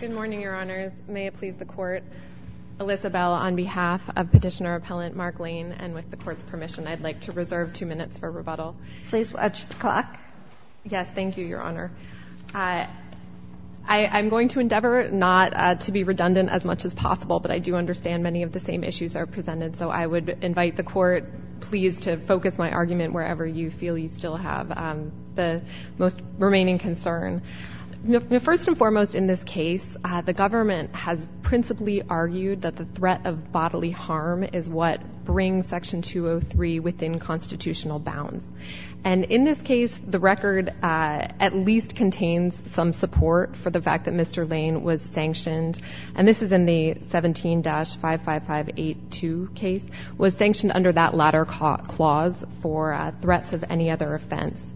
Good morning, Your Honors. May it please the Court, Elisabelle, on behalf of Petitioner Appellant Mark Lane, and with the Court's permission, I'd like to reserve two minutes for rebuttal. Please watch the clock. Yes, thank you, Your Honor. I'm going to endeavor not to be redundant as much as possible, but I do understand many of the same issues are presented, so I would invite the Court, please, to focus my argument wherever you feel you concern. First and foremost, in this case, the government has principally argued that the threat of bodily harm is what brings Section 203 within constitutional bounds. And in this case, the record at least contains some support for the fact that Mr. Lane was sanctioned, and this is in the 17-55582 case, was sanctioned under that latter clause for threats of any other offense.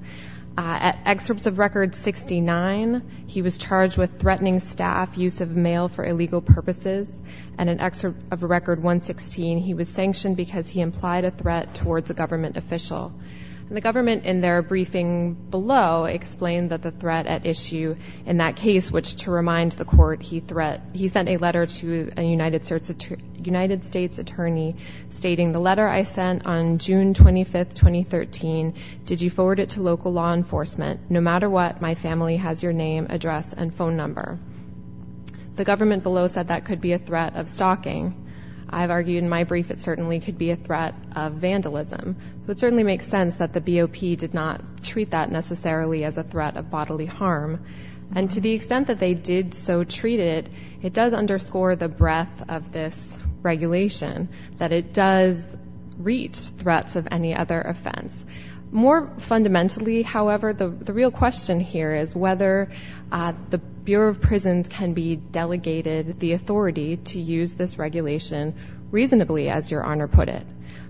At Excerpts of Record 69, he was charged with threatening staff use of mail for illegal purposes, and in Excerpt of Record 116, he was sanctioned because he implied a threat towards a government official. The government, in their briefing below, explained that the threat at issue in that case, which, to remind the Court, he sent a letter to a law enforcement. No matter what, my family has your name, address, and phone number. The government below said that could be a threat of stalking. I've argued in my brief it certainly could be a threat of vandalism. So it certainly makes sense that the BOP did not treat that necessarily as a threat of bodily harm. And to the extent that they did so treat it, it does underscore the breadth of this regulation, that it does reach threats of any other offense. More fundamentally, however, the real question here is whether the Bureau of Prisons can be delegated the authority to use this regulation reasonably, as your Honor put it.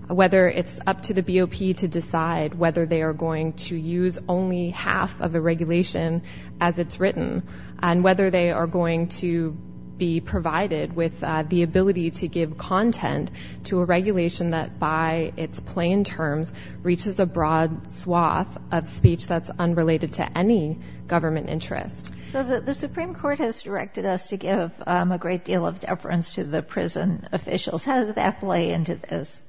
Whether it's up to the BOP to decide whether they are going to use only half of the regulation as it's written, and whether they are going to be provided with the ability to give content to a regulation that, by its plain terms, reaches a broad swath of speech that's unrelated to any government interest. So the Supreme Court has directed us to give a great deal of deference to the prison officials. How does that play into this?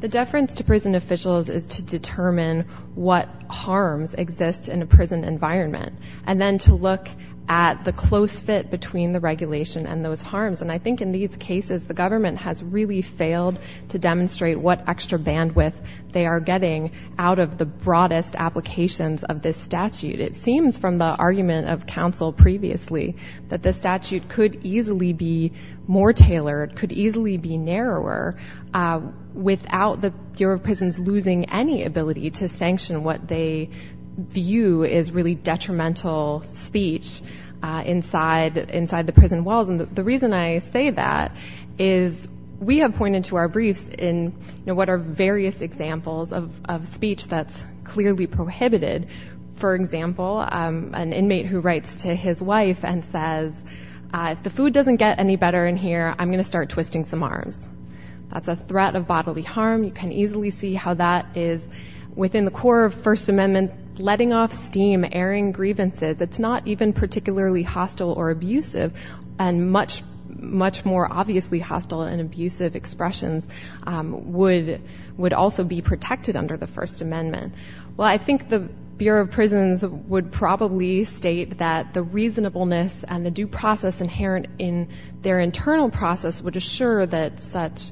The deference to prison officials is to determine what harms exist in a prison environment, and then to look at the close fit between the regulation and those harms. And I think in these cases, the government has really failed to demonstrate what extra bandwidth they are getting out of the broadest applications of this statute. It seems from the argument of counsel previously that the statute could easily be more tailored, could easily be narrower, without the Bureau of Prisons losing any ability to sanction what they view as really detrimental speech inside the prison walls. The reason I say that is we have pointed to our briefs in what are various examples of speech that's clearly prohibited. For example, an inmate who writes to his wife and says, if the food doesn't get any better in here, I'm going to start twisting some arms. That's a threat of bodily harm. You can easily see how that is within the core of First Amendment, letting off steam, airing grievances. It's not even particularly hostile or abusive. And much, much more obviously hostile and abusive expressions would also be protected under the First Amendment. Well, I think the Bureau of Prisons would probably state that the reasonableness and the due process inherent in their internal process would assure that such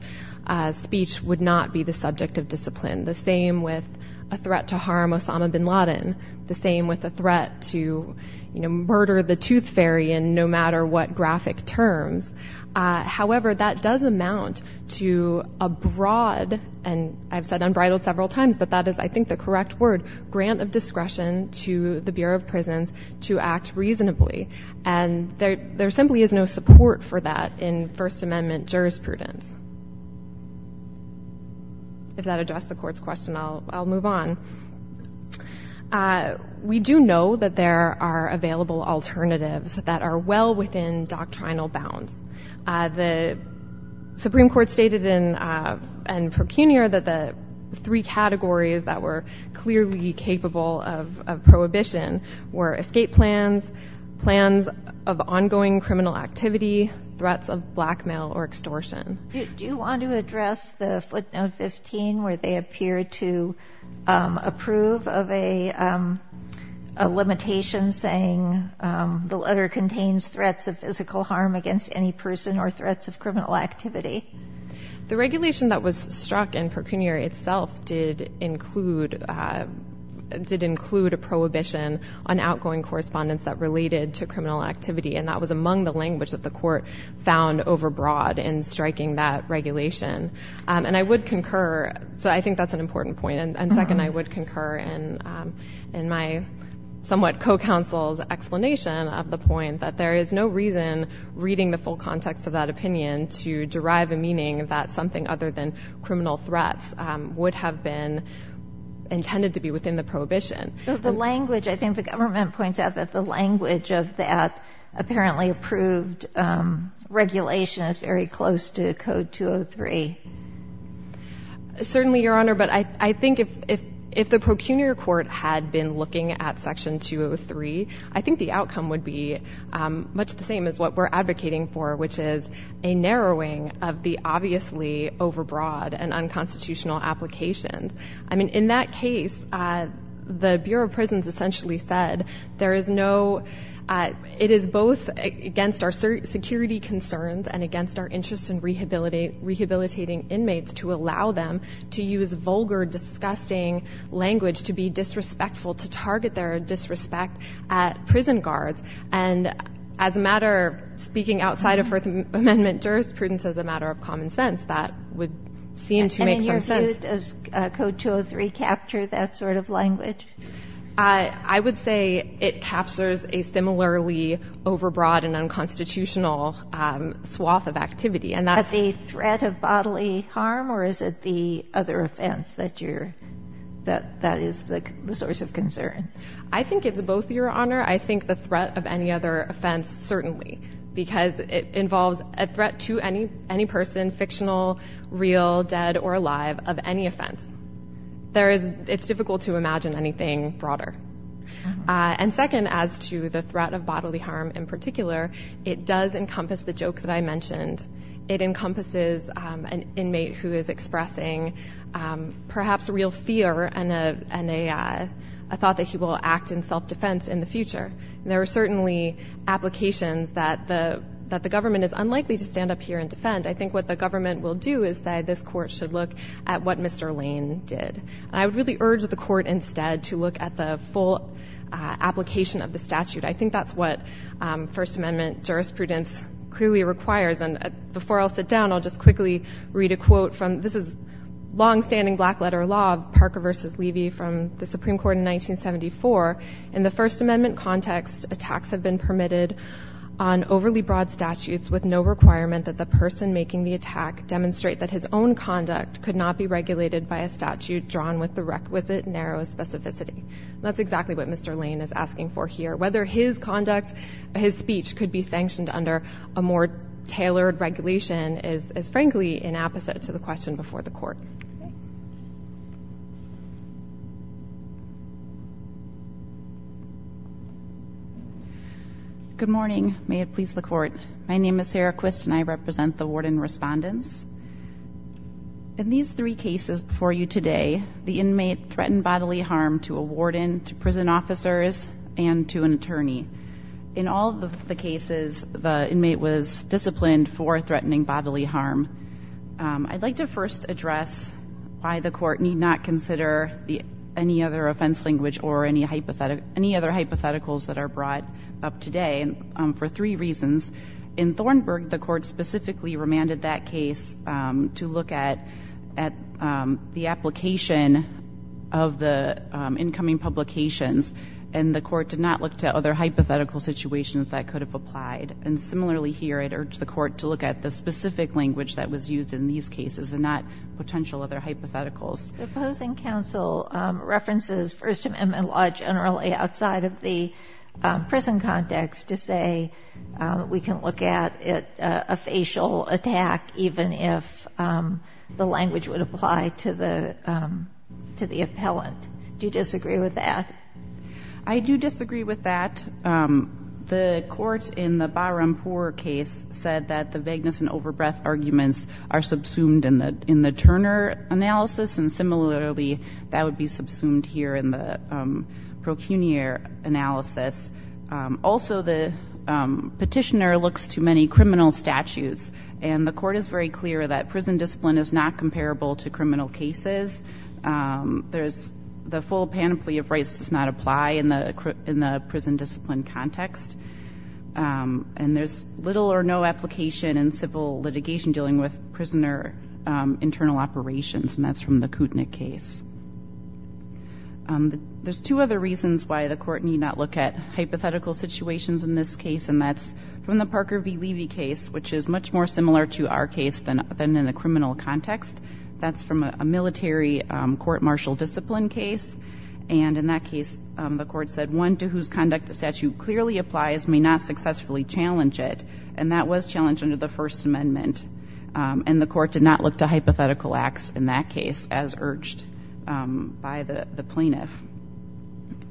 speech would not be the subject of discipline. The same with a threat to harm Osama bin Laden, the same with a threat to murder the tooth fairy in no matter what graphic terms. However, that does amount to a broad, and I've said unbridled several times, but that is, I think, the correct word, grant of discretion to the Bureau of Prisons to act reasonably. And there simply is no support for that in First Amendment jurisprudence. If that addressed the Court's question, I'll move on. We do know that there are available alternatives that are well within doctrinal bounds. The clearly capable of prohibition were escape plans, plans of ongoing criminal activity, threats of blackmail or extortion. Do you want to address the footnote 15 where they appear to approve of a limitation saying the letter contains threats of physical harm against any person or threats of criminal activity? The regulation that was struck in Percunior itself did include a prohibition on outgoing correspondence that related to criminal activity, and that was among the language that the Court found overbroad in striking that regulation. And I would concur, so I think that's an important point, and second, I would concur in my somewhat co-counsel's explanation of the point that there is no reason reading the full context of that opinion to derive a meaning that something other than criminal threats would have been intended to be within the prohibition. The language, I think the government points out that the language of that apparently approved regulation is very close to Code 203. Certainly Your Honor, but I think if the Percunior Court had been looking at Section 203, I think the outcome would be much the same as what we're advocating for, which is a narrowing of the obviously overbroad and unconstitutional applications. I mean, in that case, the Bureau of Prisons essentially said there is no—it is both against our security concerns and against our interest in rehabilitating inmates to allow them to use vulgar, disgusting language to be disrespectful, to target their disrespect at prison guards. And as a matter of speaking outside of First Amendment jurisprudence, as a matter of common sense, that would seem to make some sense. And in your view, does Code 203 capture that sort of language? I would say it captures a similarly overbroad and unconstitutional swath of activity. At the threat of bodily harm, or is it the other offense that is the source of concern? I think it's both, Your Honor. I think the threat of any other offense, certainly, because it involves a threat to any person, fictional, real, dead, or alive, of any offense. It's difficult to imagine anything broader. And second, as to the threat of bodily harm in particular, it does encompass the joke that I mentioned. It encompasses an inmate who is expressing perhaps real fear and a thought that he will act in self-defense in the future. There are certainly applications that the government is unlikely to stand up here and defend. I think what the government will do is say this Court should look at what Mr. Lane did. And I would really urge the Court instead to look at the full application of the statute. I think that's what First Amendment jurisprudence clearly requires. And before I'll sit down, I'll just quickly read a quote from—this is long-standing black-letter law, Parker v. Levy, from the Supreme Court in 1974. In the First Amendment context, attacks have been permitted on overly broad statutes with no requirement that the person making the attack demonstrate that his own conduct could not be regulated by a statute drawn with the requisite narrow specificity. That's exactly what Mr. Lane is asking for here. Whether his conduct, his speech, could be sanctioned under a more tailored regulation is, frankly, an apposite to the question before the Court. Good morning. May it please the Court. My name is Sarah Quist and I represent the Warden Respondents. In these three cases before you today, the inmate threatened bodily harm to a warden, to prison officers, and to an attorney. In all of the cases, the inmate was disciplined for threatening bodily harm. I'd like to first address why the Court need not consider any other offense language or any other hypotheticals that are brought up today for three reasons. In Thornburg, the Court specifically remanded that case to look at the application of the incoming publications, and the Court did not look to other hypothetical situations that could have applied. And similarly here, I'd urge the Court to look at the specific language that was used in these cases and not potential other hypotheticals. The opposing counsel references First Amendment law generally outside of the prison context to say we can look at a facial attack even if the language would apply to the appellant. Do you disagree with that? I do disagree with that. The Court in the Barampour case said that the vagueness and overbreath arguments are subsumed in the Turner analysis, and similarly that would be subsumed here in the Procunier analysis. Also, the petitioner looks to many criminal statutes, and the Court is very clear that prison discipline is not comparable to criminal cases. The full panoply of rights does not apply in the prison discipline context, and there's little or no application in civil litigation dealing with prisoner internal operations, and that's from the Kutnick case. There's two other reasons why the Court need not look at hypothetical situations in this case, and that's from the Parker v. Levy case, which is much more similar to our case than in the criminal context. That's from a military court martial discipline case, and in that case the Court said one to whose conduct the statute clearly applies may not successfully challenge it, and that was challenged under the First Amendment. And the Court did not look to hypothetical acts in that case as urged by the plaintiff.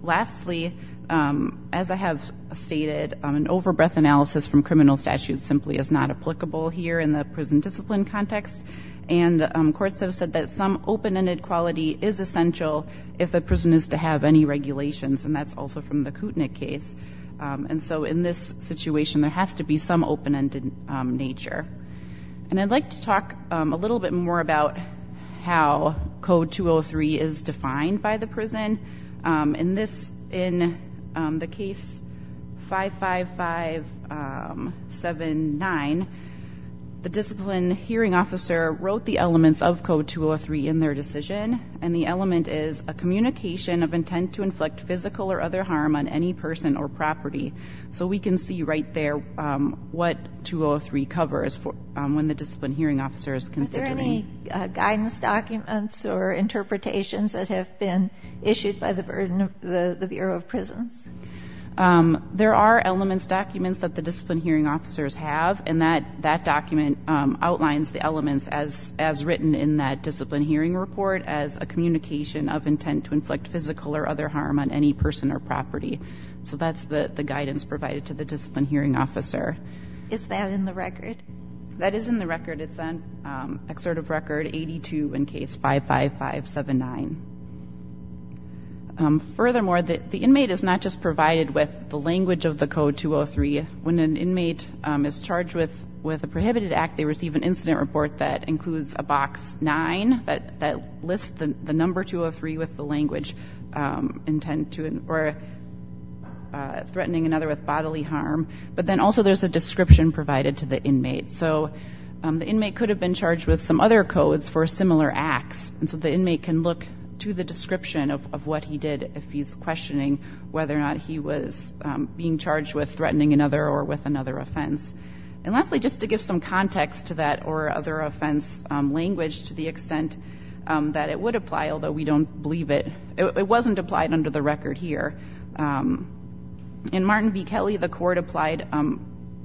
Lastly, as I have stated, an overbreath analysis from criminal statutes simply is not applicable here in the prison discipline context, and courts have said that some open-ended quality is essential if the prison is to have any regulations, and that's also from the Kutnick case. And so in this situation there has to be some open-ended nature. And I'd like to talk a little bit more about how Code 203 is defined by the prison. In the case 55579, the discipline hearing officer wrote the elements of Code 203 in their decision, and the element is a communication of intent to inflict physical or other harm on any person or property. So we can see right there what 203 covers when the discipline hearing officer is considering. Are there any guidance documents or interpretations that have been issued by the Bureau of Prisons? There are elements documents that the discipline hearing officers have, and that document outlines the elements as written in that discipline hearing report as a communication of intent to inflict physical or other harm on any person or property. So that's the guidance provided to the discipline hearing officer. Is that in the record? That is in the record. It's on exertive record 82 in case 55579. Furthermore, the inmate is not just provided with the language of the Code 203. When an inmate is charged with a prohibited act, they receive an incident report that includes a box 9 that lists the number 203 with the language intent to or threatening another with bodily harm, but then also there's a description provided to the inmate. So the inmate could have been charged with some other codes for similar acts, and so the inmate can look to the description of what he did if he's questioning whether or not he was being charged with threatening another or with another offense. And lastly, just to give some context to that or other offense language to the extent that it would apply, although we don't believe it, it wasn't applied under the record here. In Martin v. Kelly, the court applied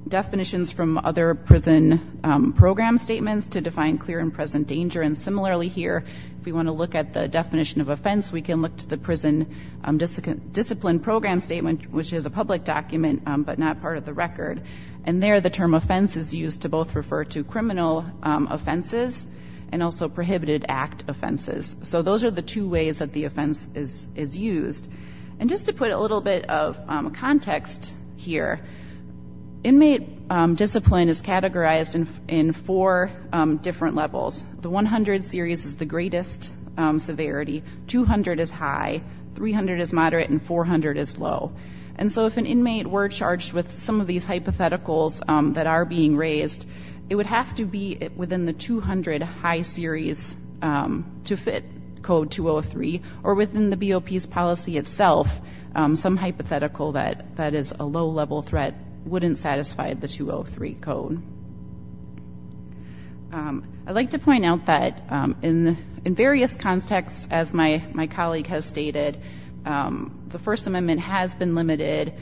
definitions from other prison program statements to define clear and present danger. And similarly here, if we want to look at the definition of offense, we can look to the prison discipline program statement, which is a public document but not part of the record. And there the term offense is used to both refer to criminal offenses and also prohibited act offenses. So those are the two ways that the offense is used. And just to put a little bit of context here, inmate discipline is categorized in four different levels. The 100 series is the greatest severity, 200 is high, 300 is moderate, and 400 is low. And so if an inmate were charged with some of these hypotheticals that are being raised, it would have to be within the 200 high series to fit code 203. Or within the BOP's policy itself, some hypothetical that is a low-level threat wouldn't satisfy the 203 code. I'd like to point out that in various contexts, as my colleague has stated, the First Amendment has been limited,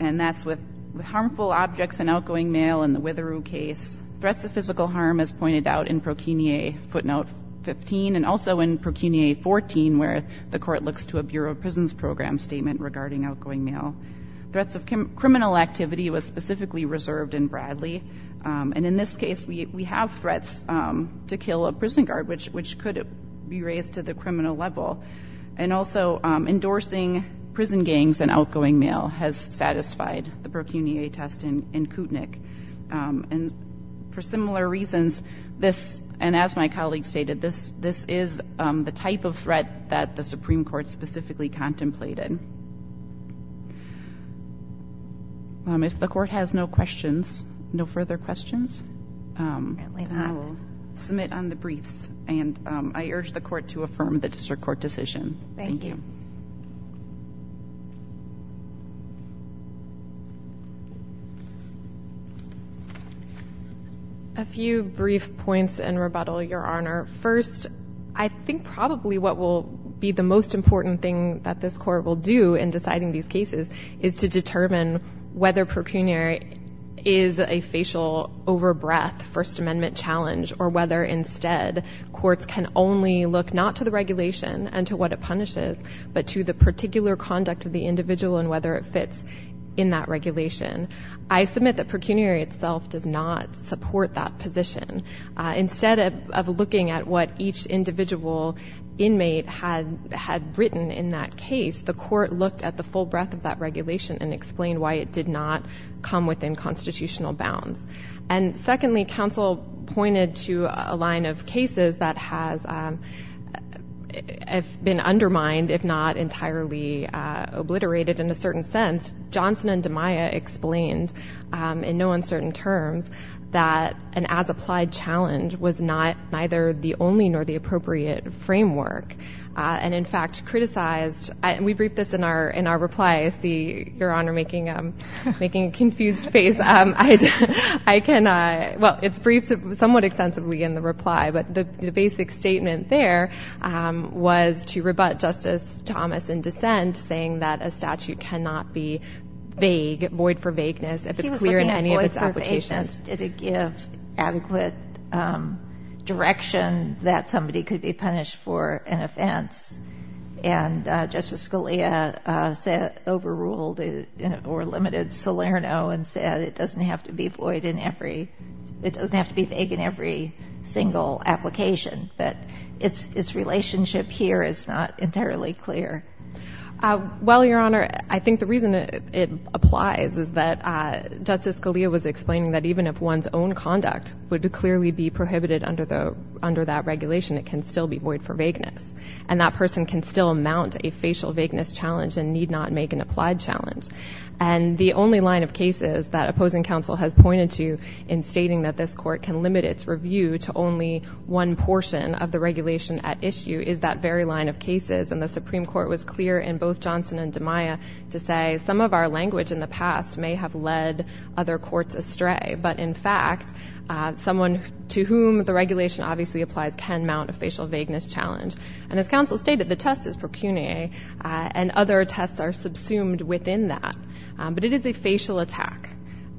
and that's with harmful objects and outgoing mail in the Witheroo case. Threats of physical harm, as pointed out in Procuniae footnote 15, and also in Procuniae 14, where the court looks to a Bureau of Prisons program statement regarding outgoing mail. Threats of criminal activity was specifically reserved in Bradley. And in this case, we have threats to kill a prison guard, which could be raised to the criminal level. And also, endorsing prison gangs and outgoing mail has satisfied the Procuniae test in Kootenai. And for similar reasons, this, and as my colleague stated, this is the type of threat that the Supreme Court specifically contemplated. If the court has no questions, no further questions? Apparently not. I will submit on the briefs, and I urge the court to affirm the district court decision. Thank you. A few brief points in rebuttal, Your Honor. First, I think probably what will be the most important thing that this court will do in deciding these cases is to determine whether Procuniae is a facial over-breath First Amendment challenge, or whether instead courts can only look not to the regulation and to what it punishes, but to the particular conduct of the individual and whether it fits in that regulation. I submit that Procuniae itself does not support that position. Instead of looking at what each individual inmate had written in that case, the court looked at the full breadth of that regulation and explained why it did not come within constitutional bounds. And secondly, counsel pointed to a case that had been undermined, if not entirely obliterated in a certain sense. Johnson and DeMaia explained in no uncertain terms that an as-applied challenge was neither the only nor the appropriate framework, and in fact criticized, and we briefed this in our reply. I see Your Honor making a confused face. I cannot, well, it's briefed somewhat extensively in the reply, but the basic statement there was to rebut Justice Thomas in dissent saying that a statute cannot be vague, void for vagueness, if it's clear in any of its applications. He was looking at void for vagueness. Did it give adequate direction that somebody could be punished for an offense? And Justice Scalia overruled or limited Salerno and said it doesn't have to be void in every, it doesn't have to be vague in every single application, but its relationship here is not entirely clear. Well, Your Honor, I think the reason it applies is that Justice Scalia was explaining that even if one's own conduct would clearly be prohibited under that regulation, it can still be void for vagueness, and that person can still mount a facial vagueness challenge and need not make an applied challenge. And the only line of cases that opposing counsel has pointed to in stating that this court can limit its review to only one portion of the regulation at issue is that very line of cases, and the Supreme Court was clear in both Johnson and DeMaia to say some of our language in the past may have led other courts astray, but in fact, someone to whom the regulation obviously applies can mount a facial vagueness challenge. And as counsel stated, the test is pro cunea, and other tests are subsumed within that. But it is a facial attack,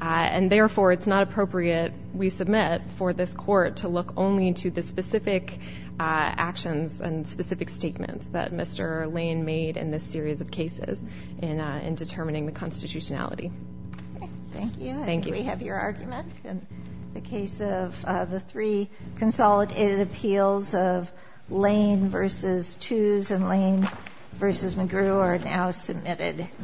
and therefore it's not appropriate, we submit, for this court to look only to the specific actions and specific statements that Mr. Lane made in this series of cases in determining the constitutionality. Thank you. Thank you. We have your argument in the case of the three consolidated appeals of Lane v. Tewes and Lane v. McGrew are now submitted.